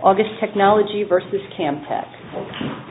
August Technology v. CAMTEK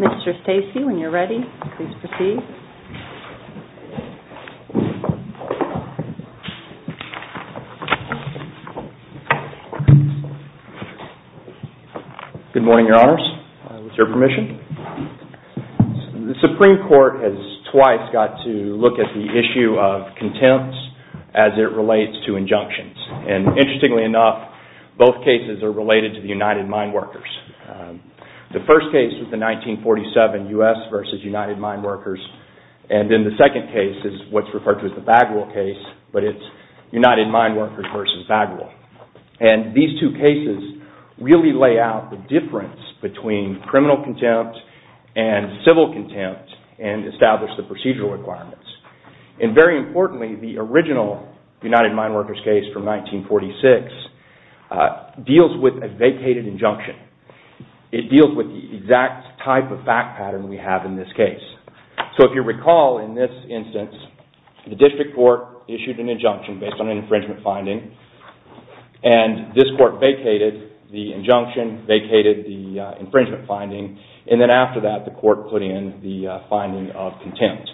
Mr. Stacey, when you're ready, please proceed. Good morning, Your Honors. With your permission. The Supreme Court has twice got to look at the issue of contempt as it relates to injunctions. And interestingly enough, both cases are related to the United Mine Workers. The first case is the 1947 U.S. v. United Mine Workers, and then the second case is what's referred to as the Bagwell case, but it's United Mine Workers v. Bagwell. And these two cases really lay out the difference between criminal contempt and civil contempt and establish the procedural requirements. And very importantly, the original United Mine Workers case from 1946 deals with a vacated injunction. It deals with the exact type of fact pattern we have in this case. So if you recall in this instance, the district court issued an injunction based on an infringement finding, and this court vacated the injunction, vacated the infringement finding, and then after that the court put in the finding of contempt.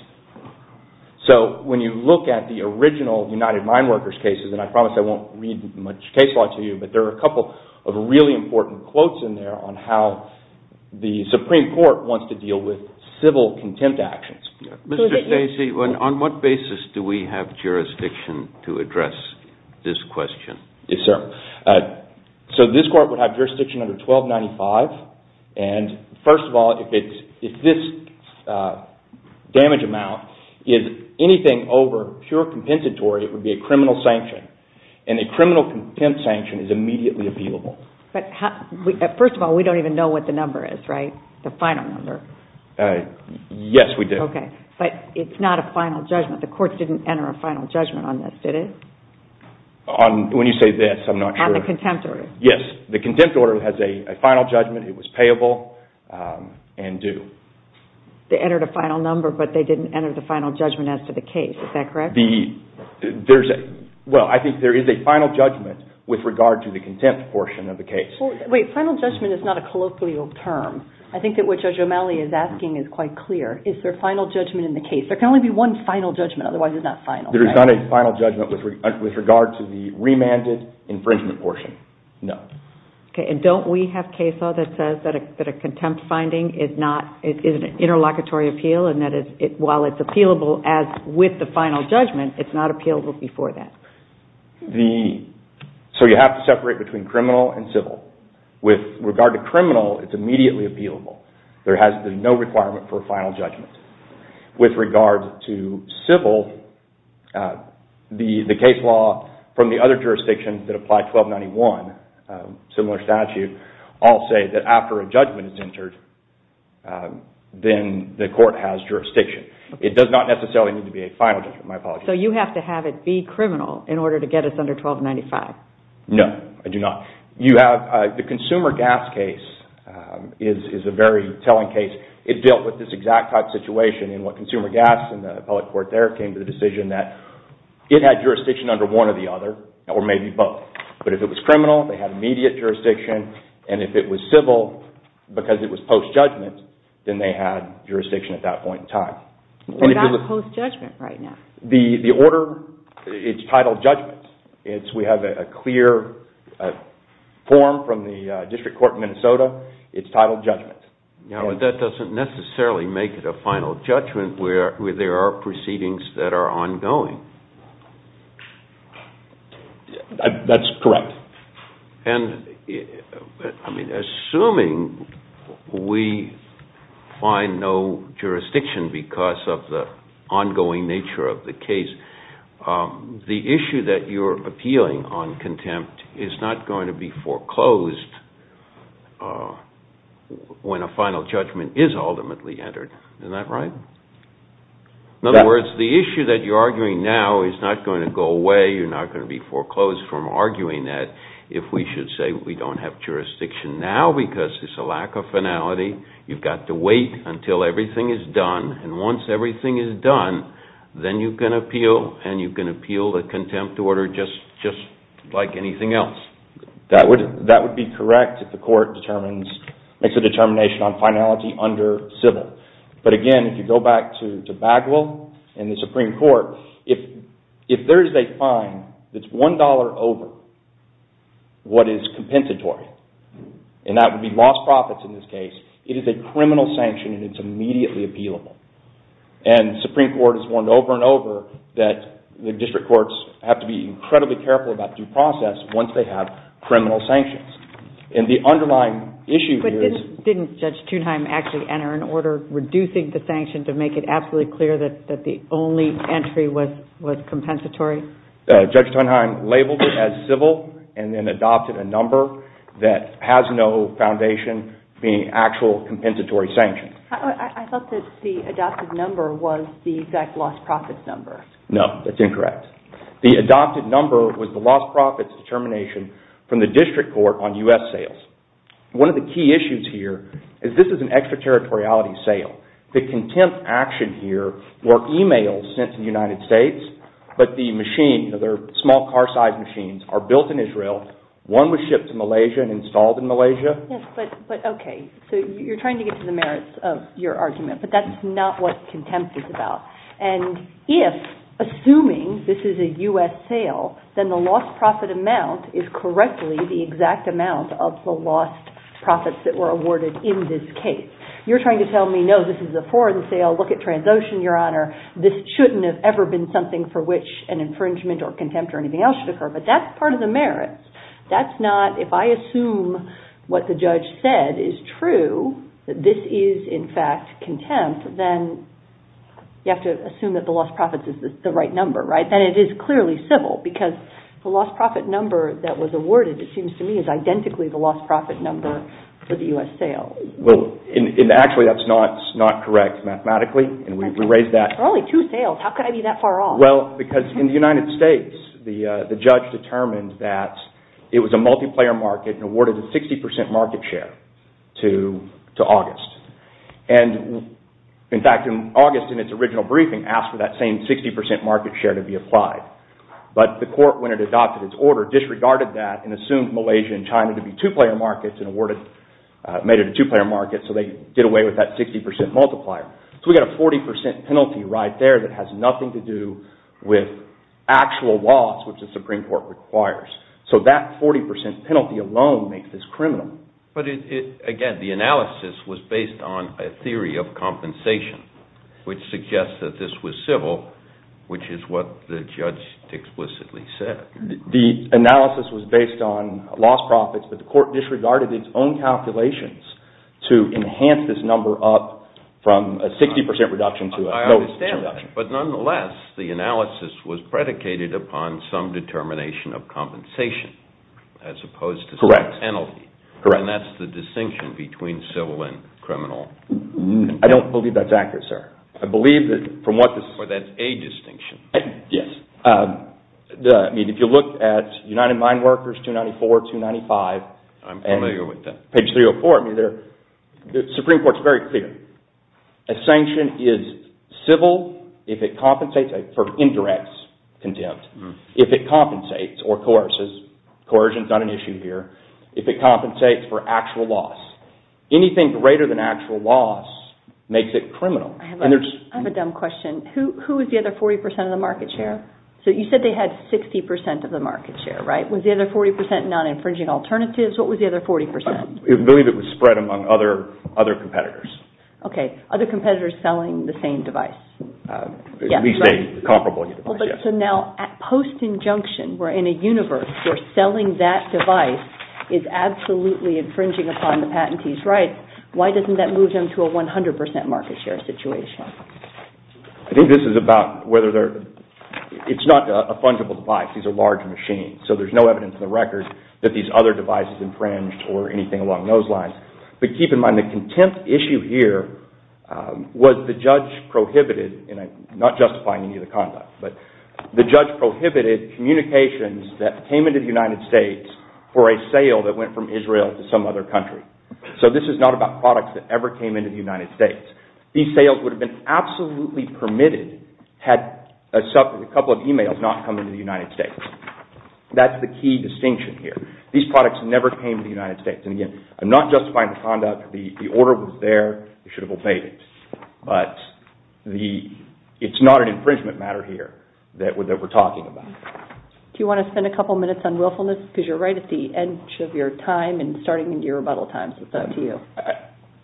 So when you look at the original United Mine Workers cases, and I promise I won't read much case law to you, but there are a couple of really important quotes in there on how the Supreme Court wants to deal with civil contempt actions. Mr. Stacey, on what basis do we have jurisdiction to address this question? Yes, sir. So this court would have jurisdiction under 1295, and first of all, if this damage amount is anything over pure compensatory, it would be a criminal sanction, and a criminal contempt sanction is immediately appealable. But first of all, we don't even know what the number is, right, the final number? Yes, we do. Okay, but it's not a final judgment. The court didn't enter a final judgment on this, did it? When you say this, I'm not sure. On the contempt order. Yes, the contempt order has a final judgment. It was payable and due. They entered a final number, but they didn't enter the final judgment as to the case. Is that correct? Well, I think there is a final judgment with regard to the contempt portion of the case. Wait, final judgment is not a colloquial term. I think that what Judge O'Malley is asking is quite clear. Is there a final judgment in the case? There can only be one final judgment, otherwise it's not final. There is not a final judgment with regard to the remanded infringement portion. No. Okay, and don't we have CAESA that says that a contempt finding is an interlocutory appeal, and that while it's appealable with the final judgment, it's not appealable before that? So you have to separate between criminal and civil. With regard to criminal, it's immediately appealable. There has been no requirement for a final judgment. With regard to civil, the case law from the other jurisdictions that apply 1291, similar statute, all say that after a judgment is entered, then the court has jurisdiction. It does not necessarily need to be a final judgment. My apologies. So you have to have it be criminal in order to get us under 1295? No, I do not. The consumer gas case is a very telling case. It dealt with this exact type situation in what consumer gas and the public court there came to the decision that it had jurisdiction under one or the other, or maybe both. But if it was criminal, they had immediate jurisdiction, and if it was civil, because it was post-judgment, then they had jurisdiction at that point in time. What about post-judgment right now? The order, it's titled judgment. We have a clear form from the district court in Minnesota. It's titled judgment. That doesn't necessarily make it a final judgment where there are proceedings that are ongoing. That's correct. Assuming we find no jurisdiction because of the ongoing nature of the case, the issue that you're appealing on contempt is not going to be foreclosed when a final judgment is ultimately entered. Isn't that right? In other words, the issue that you're arguing now is not going to go away. You're not going to be foreclosed from arguing that. If we should say we don't have jurisdiction now because it's a lack of finality, you've got to wait until everything is done, and once everything is done, then you can appeal, and you can appeal the contempt order just like anything else. That would be correct if the court makes a determination on finality under civil. But again, if you go back to Bagwell and the Supreme Court, if there is a fine that's $1 over what is compensatory, and that would be lost profits in this case, it is a criminal sanction, and it's immediately appealable. And the Supreme Court has warned over and over that the district courts have to be incredibly careful about due process once they have criminal sanctions. And the underlying issue here is... But didn't Judge Thunheim actually enter an order reducing the sanction to make it absolutely clear that the only entry was compensatory? Judge Thunheim labeled it as civil and then adopted a number that has no foundation being actual compensatory sanctions. I thought that the adopted number was the exact lost profits number. No, that's incorrect. The adopted number was the lost profits determination from the district court on U.S. sales. One of the key issues here is this is an extraterritoriality sale. The contempt action here were e-mails sent to the United States, but the machine, they're small car-sized machines, are built in Israel. One was shipped to Malaysia and installed in Malaysia. But, okay, so you're trying to get to the merits of your argument, but that's not what contempt is about. And if, assuming this is a U.S. sale, then the lost profit amount is correctly the exact amount of the lost profits that were awarded in this case. You're trying to tell me, no, this is a foreign sale. Look at Transocean, Your Honor. This shouldn't have ever been something for which an infringement or contempt or anything else should occur. But that's part of the merits. That's not, if I assume what the judge said is true, that this is, in fact, contempt, then you have to assume that the lost profits is the right number, right? Then it is clearly civil because the lost profit number that was awarded, it seems to me, is identically the lost profit number for the U.S. sale. Well, actually, that's not correct mathematically, and we raised that. There are only two sales. How could I be that far off? Well, because in the United States, the judge determined that it was a multiplayer market and awarded a 60% market share to August. And, in fact, in August, in its original briefing, asked for that same 60% market share to be applied. But the court, when it adopted its order, disregarded that and assumed Malaysia and China to be two-player markets and made it a two-player market, so they did away with that 60% multiplier. So we got a 40% penalty right there that has nothing to do with actual loss, which the Supreme Court requires. So that 40% penalty alone makes this criminal. But, again, the analysis was based on a theory of compensation, which suggests that this was civil, which is what the judge explicitly said. The analysis was based on lost profits, but the court disregarded its own calculations to enhance this number up from a 60% reduction to a 60% reduction. I understand that. But, nonetheless, the analysis was predicated upon some determination of compensation as opposed to some penalty. Correct. And that's the distinction between civil and criminal. I don't believe that's accurate, sir. Or that's a distinction. Yes. I mean, if you look at United Mine Workers 294, 295. I'm familiar with that. Page 304, I mean, the Supreme Court's very clear. A sanction is civil if it compensates for indirects condemned, if it compensates or coerces. Coercion's not an issue here. If it compensates for actual loss. Anything greater than actual loss makes it criminal. I have a dumb question. Who was the other 40% of the market share? So you said they had 60% of the market share, right? Was the other 40% non-infringing alternatives? What was the other 40%? I believe it was spread among other competitors. Okay. Other competitors selling the same device. At least a comparable device, yes. So now, at post-injunction, we're in a universe where selling that device is absolutely infringing upon the patentee's rights. Why doesn't that move them to a 100% market share situation? I think this is about whether they're – it's not a fungible device. These are large machines. So there's no evidence in the record that these other devices infringed or anything along those lines. But keep in mind the contempt issue here was the judge prohibited, and I'm not justifying any of the conduct, but the judge prohibited communications that came into the United States for a sale that went from Israel to some other country. So this is not about products that ever came into the United States. These sales would have been absolutely permitted had a couple of emails not come into the United States. That's the key distinction here. These products never came to the United States. And again, I'm not justifying the conduct. The order was there. They should have obeyed it. But it's not an infringement matter here that we're talking about. Do you want to spend a couple minutes on willfulness? Because you're right at the edge of your time and starting into your rebuttal time, so it's up to you.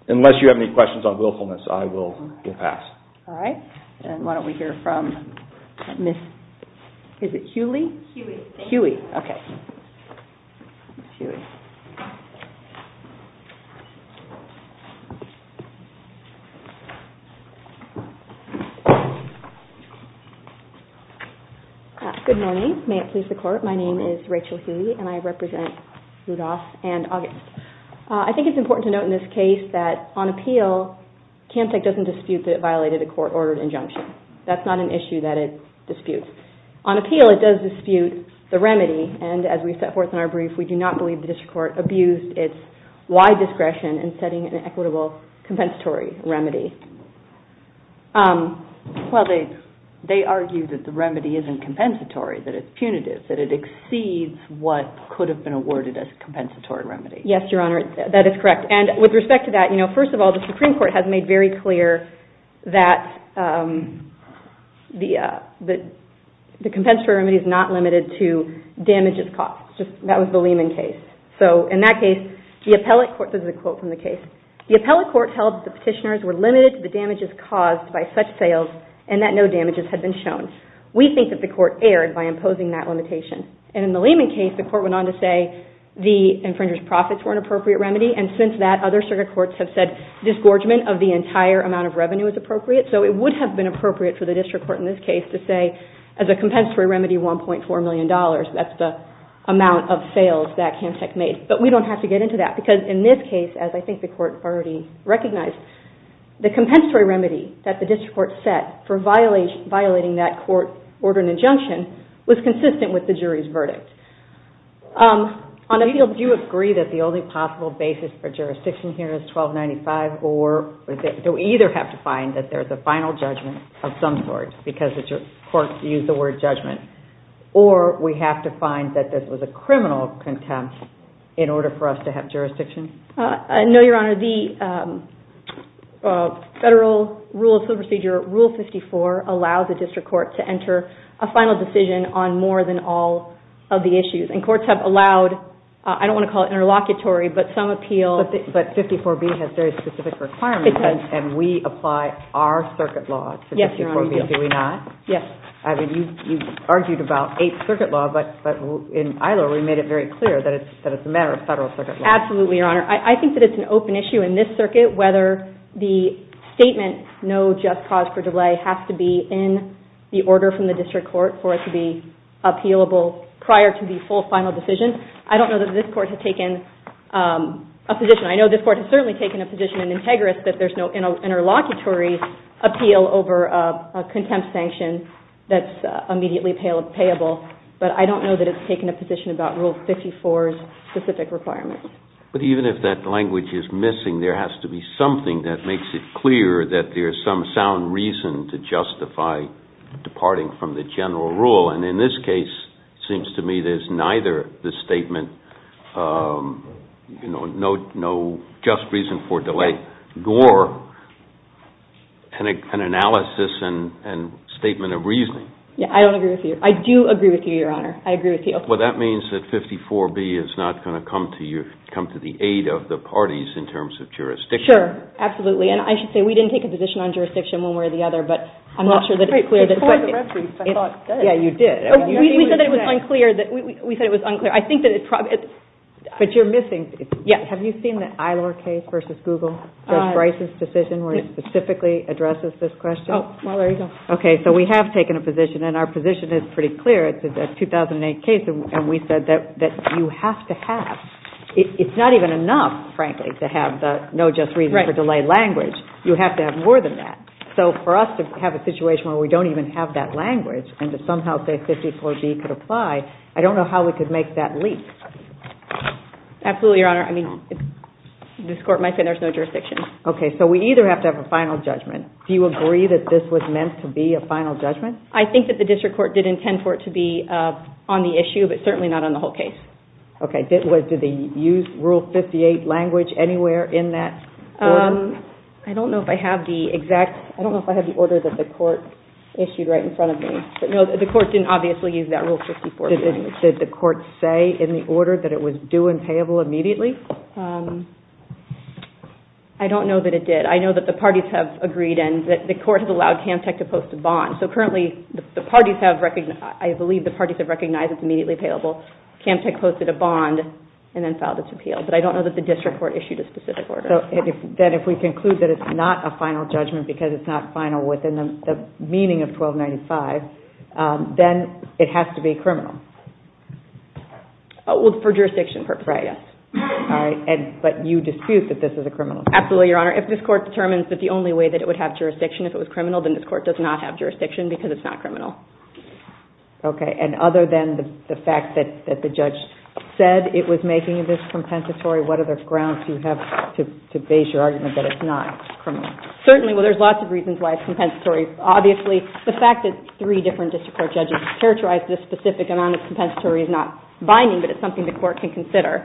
Unless you have any questions on willfulness, I will pass. All right. Why don't we hear from Ms. Hughley? Hughley. Good morning. May it please the Court. My name is Rachel Hughley, and I represent Rudolph and August. I think it's important to note in this case that on appeal, CAMTEC doesn't dispute that it violated a court-ordered injunction. That's not an issue that it disputes. On appeal, it does dispute the remedy. And as we set forth in our brief, we do not believe the district court abused its wide discretion in setting an equitable compensatory remedy. Well, they argue that the remedy isn't compensatory, that it's punitive, that it exceeds what could have been awarded as a compensatory remedy. Yes, Your Honor, that is correct. And with respect to that, you know, first of all, the Supreme Court has made very clear that the compensatory remedy is not limited to damages caused. That was the Lehman case. So in that case, the appellate court, this is a quote from the case, the appellate court held that the petitioners were limited to the damages caused by such sales and that no damages had been shown. We think that the court erred by imposing that limitation. And in the Lehman case, the court went on to say the infringer's profits were an appropriate remedy. And since that, other circuit courts have said disgorgement of the entire amount of revenue is appropriate. So it would have been appropriate for the district court in this case to say as a compensatory remedy, $1.4 million. That's the amount of sales that CAMTEC made. But we don't have to get into that because in this case, as I think the court already recognized, the compensatory remedy that the district court set for violating that court order and injunction was consistent with the jury's verdict. Do you agree that the only possible basis for jurisdiction here is 1295 or do we either have to find that there's a final judgment of some sort because the court used the word judgment or we have to find that this was a criminal contempt in order for us to have jurisdiction? No, Your Honor. Your Honor, the Federal Rule of Civil Procedure, Rule 54, allows the district court to enter a final decision on more than all of the issues. And courts have allowed, I don't want to call it interlocutory, but some appeal... But 54B has very specific requirements. It does. And we apply our circuit law to 54B, do we not? Yes, Your Honor, we do. I mean, you've argued about 8th Circuit Law, but in ILO we made it very clear that it's a matter of Federal Circuit Law. Absolutely, Your Honor. I think that it's an open issue in this circuit whether the statement, no just cause for delay, has to be in the order from the district court for it to be appealable prior to the full final decision. I don't know that this court has taken a position. I know this court has certainly taken a position in Integris that there's no interlocutory appeal over a contempt sanction that's immediately payable, but I don't know that it's taken a position about Rule 54's specific requirements. But even if that language is missing, there has to be something that makes it clear that there's some sound reason to justify departing from the general rule, and in this case, it seems to me, there's neither the statement, no just reason for delay, nor an analysis and statement of reasoning. Yeah, I don't agree with you. I do agree with you, Your Honor. I agree with you. Well, that means that 54B is not going to come to the aid of the parties in terms of jurisdiction. Sure, absolutely. And I should say we didn't take a position on jurisdiction one way or the other, but I'm not sure that it's clear. Before the referees, I thought you did. Yeah, you did. We said that it was unclear. We said it was unclear. I think that it probably... But you're missing. Yeah. Have you seen the Eilor case versus Google? Bryce's decision where it specifically addresses this question? Oh, well, there you go. Okay, so we have taken a position, and our position is pretty clear. It's a 2008 case, and we said that you have to have... It's not even enough, frankly, to have the no just reason for delay language. Right. You have to have more than that. So for us to have a situation where we don't even have that language and to somehow say 54B could apply, I don't know how we could make that leap. Absolutely, Your Honor. I mean, this Court might say there's no jurisdiction. Okay, so we either have to have a final judgment. Do you agree that this was meant to be a final judgment? I think that the district court did intend for it to be on the issue, but certainly not on the whole case. Okay. Did they use Rule 58 language anywhere in that order? I don't know if I have the exact... I don't know if I have the order that the court issued right in front of me. But, no, the court didn't obviously use that Rule 54. Did the court say in the order that it was due and payable immediately? I don't know that it did. and the court has allowed CamTech to post a bond. So, currently, the parties have recognized... I believe the parties have recognized it's immediately payable. CamTech posted a bond and then filed its appeal. But I don't know that the district court issued a specific order. Then if we conclude that it's not a final judgment because it's not final within the meaning of 1295, then it has to be criminal. Well, for jurisdiction purposes, yes. Right. But you dispute that this is a criminal case. Absolutely, Your Honor. If this Court determines that the only way that it would have jurisdiction if it was criminal, then this Court does not have jurisdiction because it's not criminal. Okay. And other than the fact that the judge said it was making this compensatory, what other grounds do you have to base your argument that it's not criminal? Certainly. Well, there's lots of reasons why it's compensatory. Obviously, the fact that three different district court judges characterized this specific amount of compensatory is not binding, but it's something the Court can consider.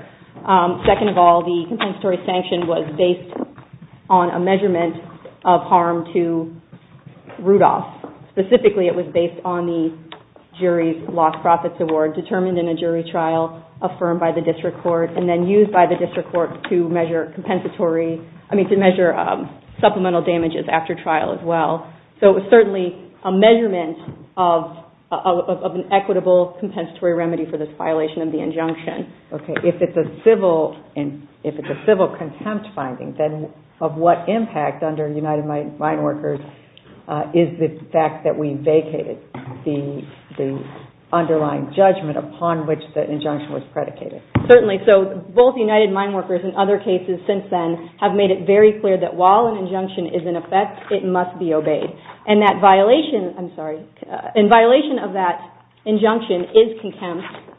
Second of all, the compensatory sanction was based on a measurement of harm to Rudolph. Specifically, it was based on the jury's lost profits award determined in a jury trial, affirmed by the district court, and then used by the district court to measure supplemental damages after trial as well. So it was certainly a measurement of an equitable compensatory remedy for this violation of the injunction. Okay. If it's a civil contempt finding, then of what impact under United Mine Workers is the fact that we vacated the underlying judgment upon which the injunction was predicated? Certainly. So both United Mine Workers and other cases since then have made it very clear that while an injunction is in effect, it must be obeyed. And that violation of that injunction is contempt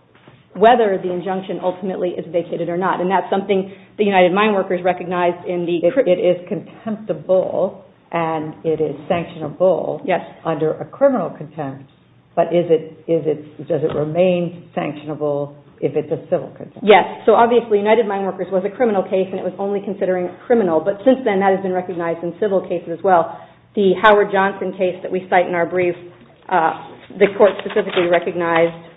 whether the injunction ultimately is vacated or not. And that's something the United Mine Workers recognized in the... It is contemptible and it is sanctionable under a criminal contempt, but does it remain sanctionable if it's a civil contempt? Yes. So obviously, United Mine Workers was a criminal case and it was only considering a criminal. But since then, that has been recognized in civil cases as well. The Howard Johnson case that we cite in our brief, the Court specifically recognized...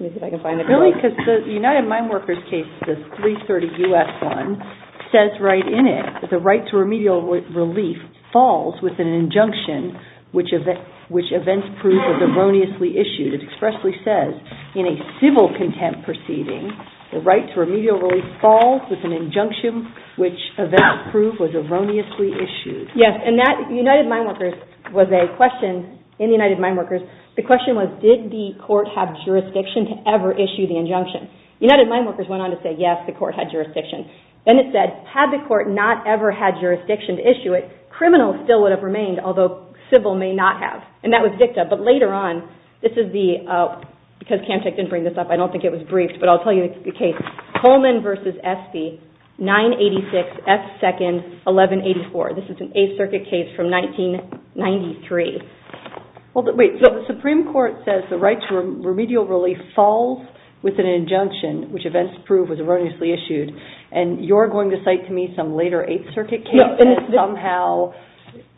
Really? Because the United Mine Workers case, the 330 U.S. one, says right in it that the right to remedial relief falls with an injunction which events prove was erroneously issued. It expressly says, in a civil contempt proceeding, the right to remedial relief falls with an injunction which events prove was erroneously issued. Yes. And that United Mine Workers was a question... In the United Mine Workers, the question was, did the court have jurisdiction to ever issue the injunction? United Mine Workers went on to say, yes, the court had jurisdiction. Then it said, had the court not ever had jurisdiction to issue it, criminals still would have remained, although civil may not have. And that was dicta. But later on, this is the... Because CAMFED didn't bring this up, I don't think it was briefed, but I'll tell you the case. Coleman v. Espy, 986 F. 2nd, 1184. This is an Eighth Circuit case from 1993. Well, wait. So the Supreme Court says the right to remedial relief falls with an injunction which events prove was erroneously issued. And you're going to cite to me some later Eighth Circuit case that is somehow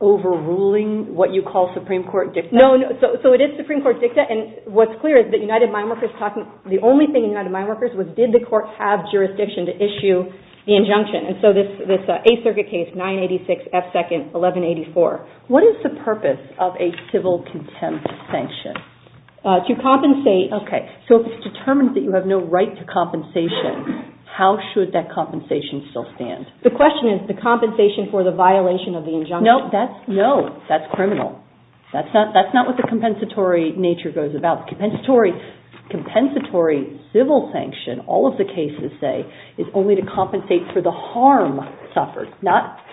overruling what you call Supreme Court dicta. No, no. So it is Supreme Court dicta, and what's clear is that the only thing in United Mine Workers was, did the court have jurisdiction to issue the injunction? And so this Eighth Circuit case, 986 F. 2nd, 1184. What is the purpose of a civil contempt sanction? To compensate. Okay. So if it's determined that you have no right to compensation, how should that compensation still stand? The question is the compensation for the violation of the injunction. No, that's criminal. That's not what the compensatory nature goes about. The compensatory civil sanction, all of the cases say, is only to compensate for the harm suffered, not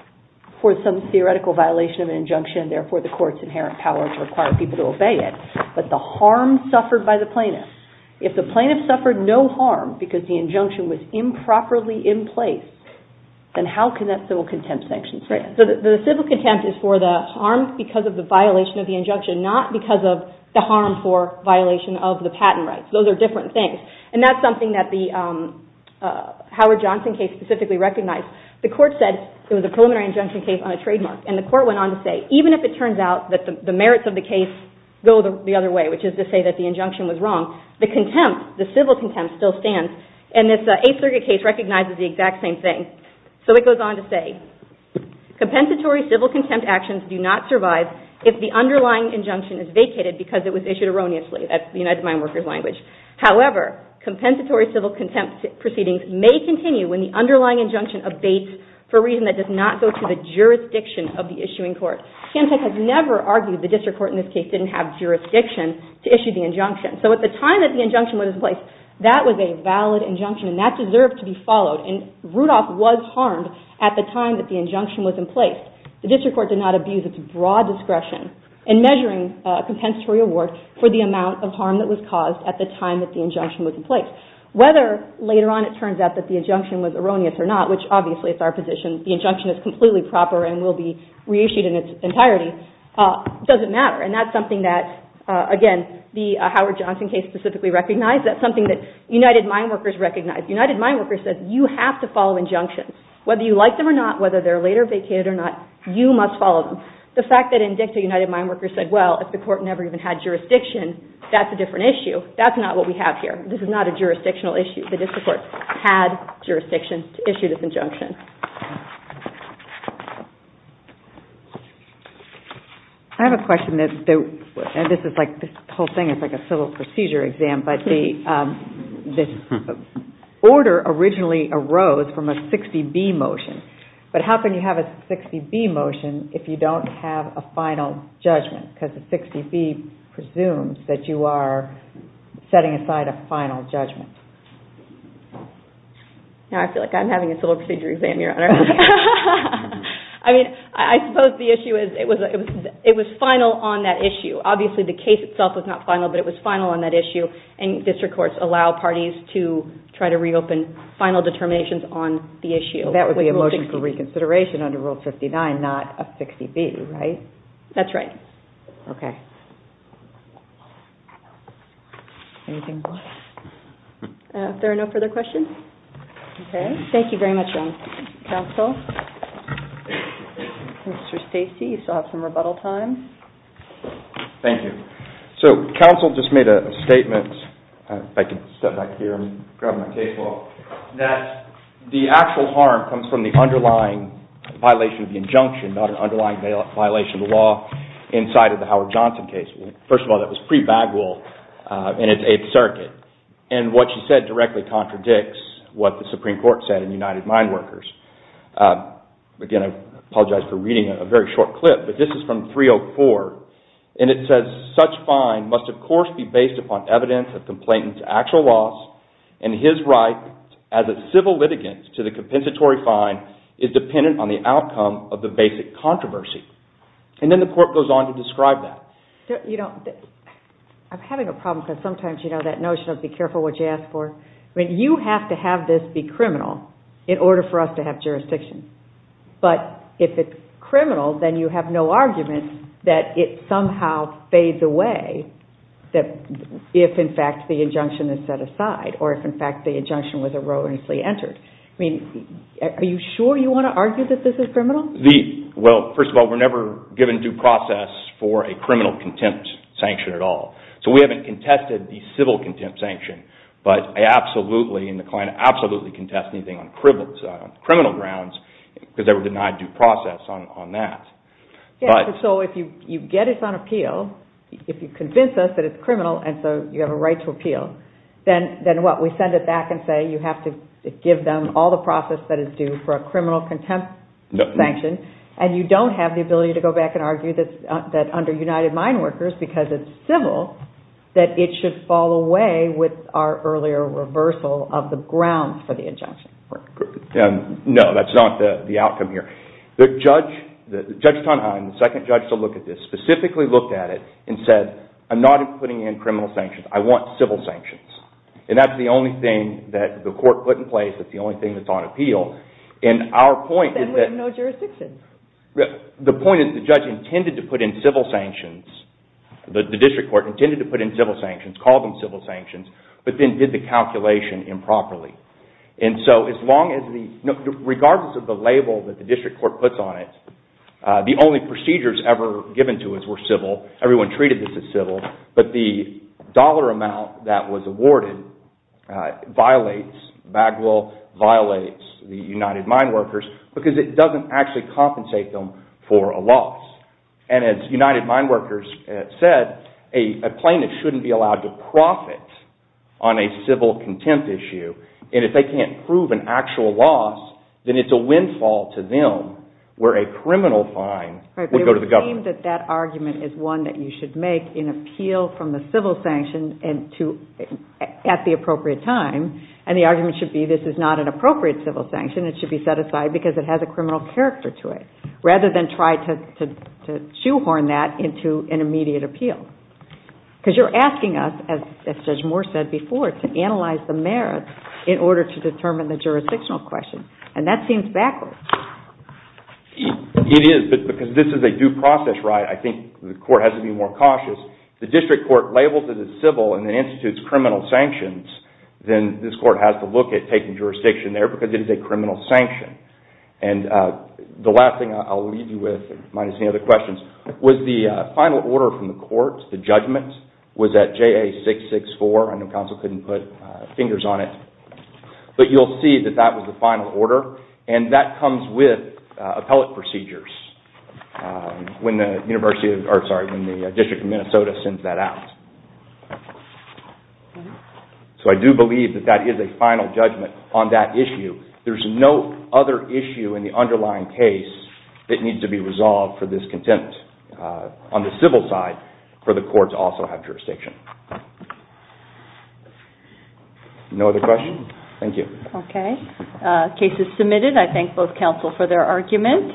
for some theoretical violation of an injunction, therefore the court's inherent power to require people to obey it, but the harm suffered by the plaintiff. If the plaintiff suffered no harm because the injunction was improperly in place, then how can that civil contempt sanction stand? So the civil contempt is for the harm because of the violation of the injunction, not because of the harm for violation of the patent rights. Those are different things. And that's something that the Howard Johnson case specifically recognized. The court said it was a preliminary injunction case on a trademark, and the court went on to say, even if it turns out that the merits of the case go the other way, which is to say that the injunction was wrong, the contempt, the civil contempt, still stands, and this 8th Circuit case recognizes the exact same thing. So it goes on to say, compensatory civil contempt actions do not survive if the underlying injunction is vacated because it was issued erroneously, that's the United Mine Workers' language. However, compensatory civil contempt proceedings may continue when the underlying injunction abates for a reason that does not go to the jurisdiction of the issuing court. Chemtech has never argued the district court in this case didn't have jurisdiction to issue the injunction. So at the time that the injunction was in place, that was a valid injunction, and that deserved to be followed, and Rudolph was harmed at the time that the injunction was in place. The district court did not abuse its broad discretion in measuring a compensatory award for the amount of harm that was caused at the time that the injunction was in place. Whether later on it turns out that the injunction was erroneous or not, which obviously is our position, the injunction is completely proper and will be reissued in its entirety, doesn't matter. And that's something that, again, the Howard Johnson case specifically recognized, that's something that United Mine Workers recognized. United Mine Workers said, you have to follow injunctions. Whether you like them or not, whether they're later vacated or not, you must follow them. The fact that in DICTA, United Mine Workers said, well, if the court never even had jurisdiction, that's a different issue. That's not what we have here. This is not a jurisdictional issue. The district court had jurisdiction to issue this injunction. I have a question. This whole thing is like a civil procedure exam. The order originally arose from a 60B motion. But how can you have a 60B motion if you don't have a final judgment? Because the 60B presumes that you are setting aside a final judgment. I feel like I'm having a civil procedure exam, Your Honor. I suppose the issue is, it was final on that issue. Obviously, the case itself was not final, but it was final on that issue, and district courts allow parties to try to reopen final determinations on the issue. That would be a motion for reconsideration under Rule 59, not a 60B, right? That's right. Okay. Anything else? If there are no further questions? Okay. Thank you very much, counsel. Mr. Stacey, you still have some rebuttal time. Thank you. So, counsel just made a statement. If I could step back here and grab my casebook. That the actual harm comes from the underlying violation of the injunction, not an underlying violation of the law inside of the Howard Johnson case. First of all, that was pre-Bagwell in its Eighth Circuit, and what she said directly contradicts what the Supreme Court said in United Mine Workers. Again, I apologize for reading a very short clip, but this is from 304, and it says, Such fine must of course be based upon evidence of complainant's actual loss, and his right as a civil litigant to the compensatory fine is dependent on the outcome of the basic controversy. And then the court goes on to describe that. You know, I'm having a problem because sometimes, you know, that notion of be careful what you ask for. I mean, you have to have this be criminal in order for us to have jurisdiction. But if it's criminal, then you have no argument that it somehow fades away if, in fact, the injunction is set aside, or if, in fact, the injunction was erroneously entered. I mean, are you sure you want to argue that this is criminal? Well, first of all, we're never given due process for a criminal contempt sanction at all. So we haven't contested the civil contempt sanction, but I absolutely and the client absolutely contest anything on criminal grounds because they were denied due process on that. So if you get us on appeal, if you convince us that it's criminal and so you have a right to appeal, then what, we send it back and say you have to give them all the process that is due for a criminal contempt sanction, and you don't have the ability to go back and argue that under United Mine Workers, because it's civil, that it should fall away with our earlier reversal of the grounds for the injunction. No, that's not the outcome here. Judge Tonheim, the second judge to look at this, specifically looked at it and said, I'm not putting in criminal sanctions. I want civil sanctions. And that's the only thing that the court put in place. That's the only thing that's on appeal. And our point is that the point is the judge intended to put in civil sanctions. The district court intended to put in civil sanctions, called them civil sanctions, but then did the calculation improperly. And so as long as the, regardless of the label that the district court puts on it, the only procedures ever given to us were civil, everyone treated this as civil, but the dollar amount that was awarded violates, Bagwell violates the United Mine Workers, because it doesn't actually compensate them for a loss. And as United Mine Workers said, a plaintiff shouldn't be allowed to profit on a civil contempt issue, and if they can't prove an actual loss, then it's a windfall to them where a criminal fine would go to the government. It would seem that that argument is one that you should make in appeal from the civil sanction at the appropriate time, and the argument should be this is not an appropriate civil sanction. It should be set aside because it has a criminal character to it, rather than try to shoehorn that into an immediate appeal. Because you're asking us, as Judge Moore said before, to analyze the merits in order to determine the jurisdictional question, and that seems backwards. It is, but because this is a due process right, I think the court has to be more cautious. The district court labels it as civil and then institutes criminal sanctions, then this court has to look at taking jurisdiction there because it is a criminal sanction. And the last thing I'll leave you with, minus any other questions, was the final order from the court, the judgment, was at JA664. I know counsel couldn't put fingers on it. But you'll see that that was the final order, and that comes with appellate procedures when the district of Minnesota sends that out. So I do believe that that is a final judgment on that issue. There's no other issue in the underlying case that needs to be resolved for this content on the civil side for the court to also have jurisdiction. No other questions? Thank you. Okay. Case is submitted. I thank both counsel for their argument.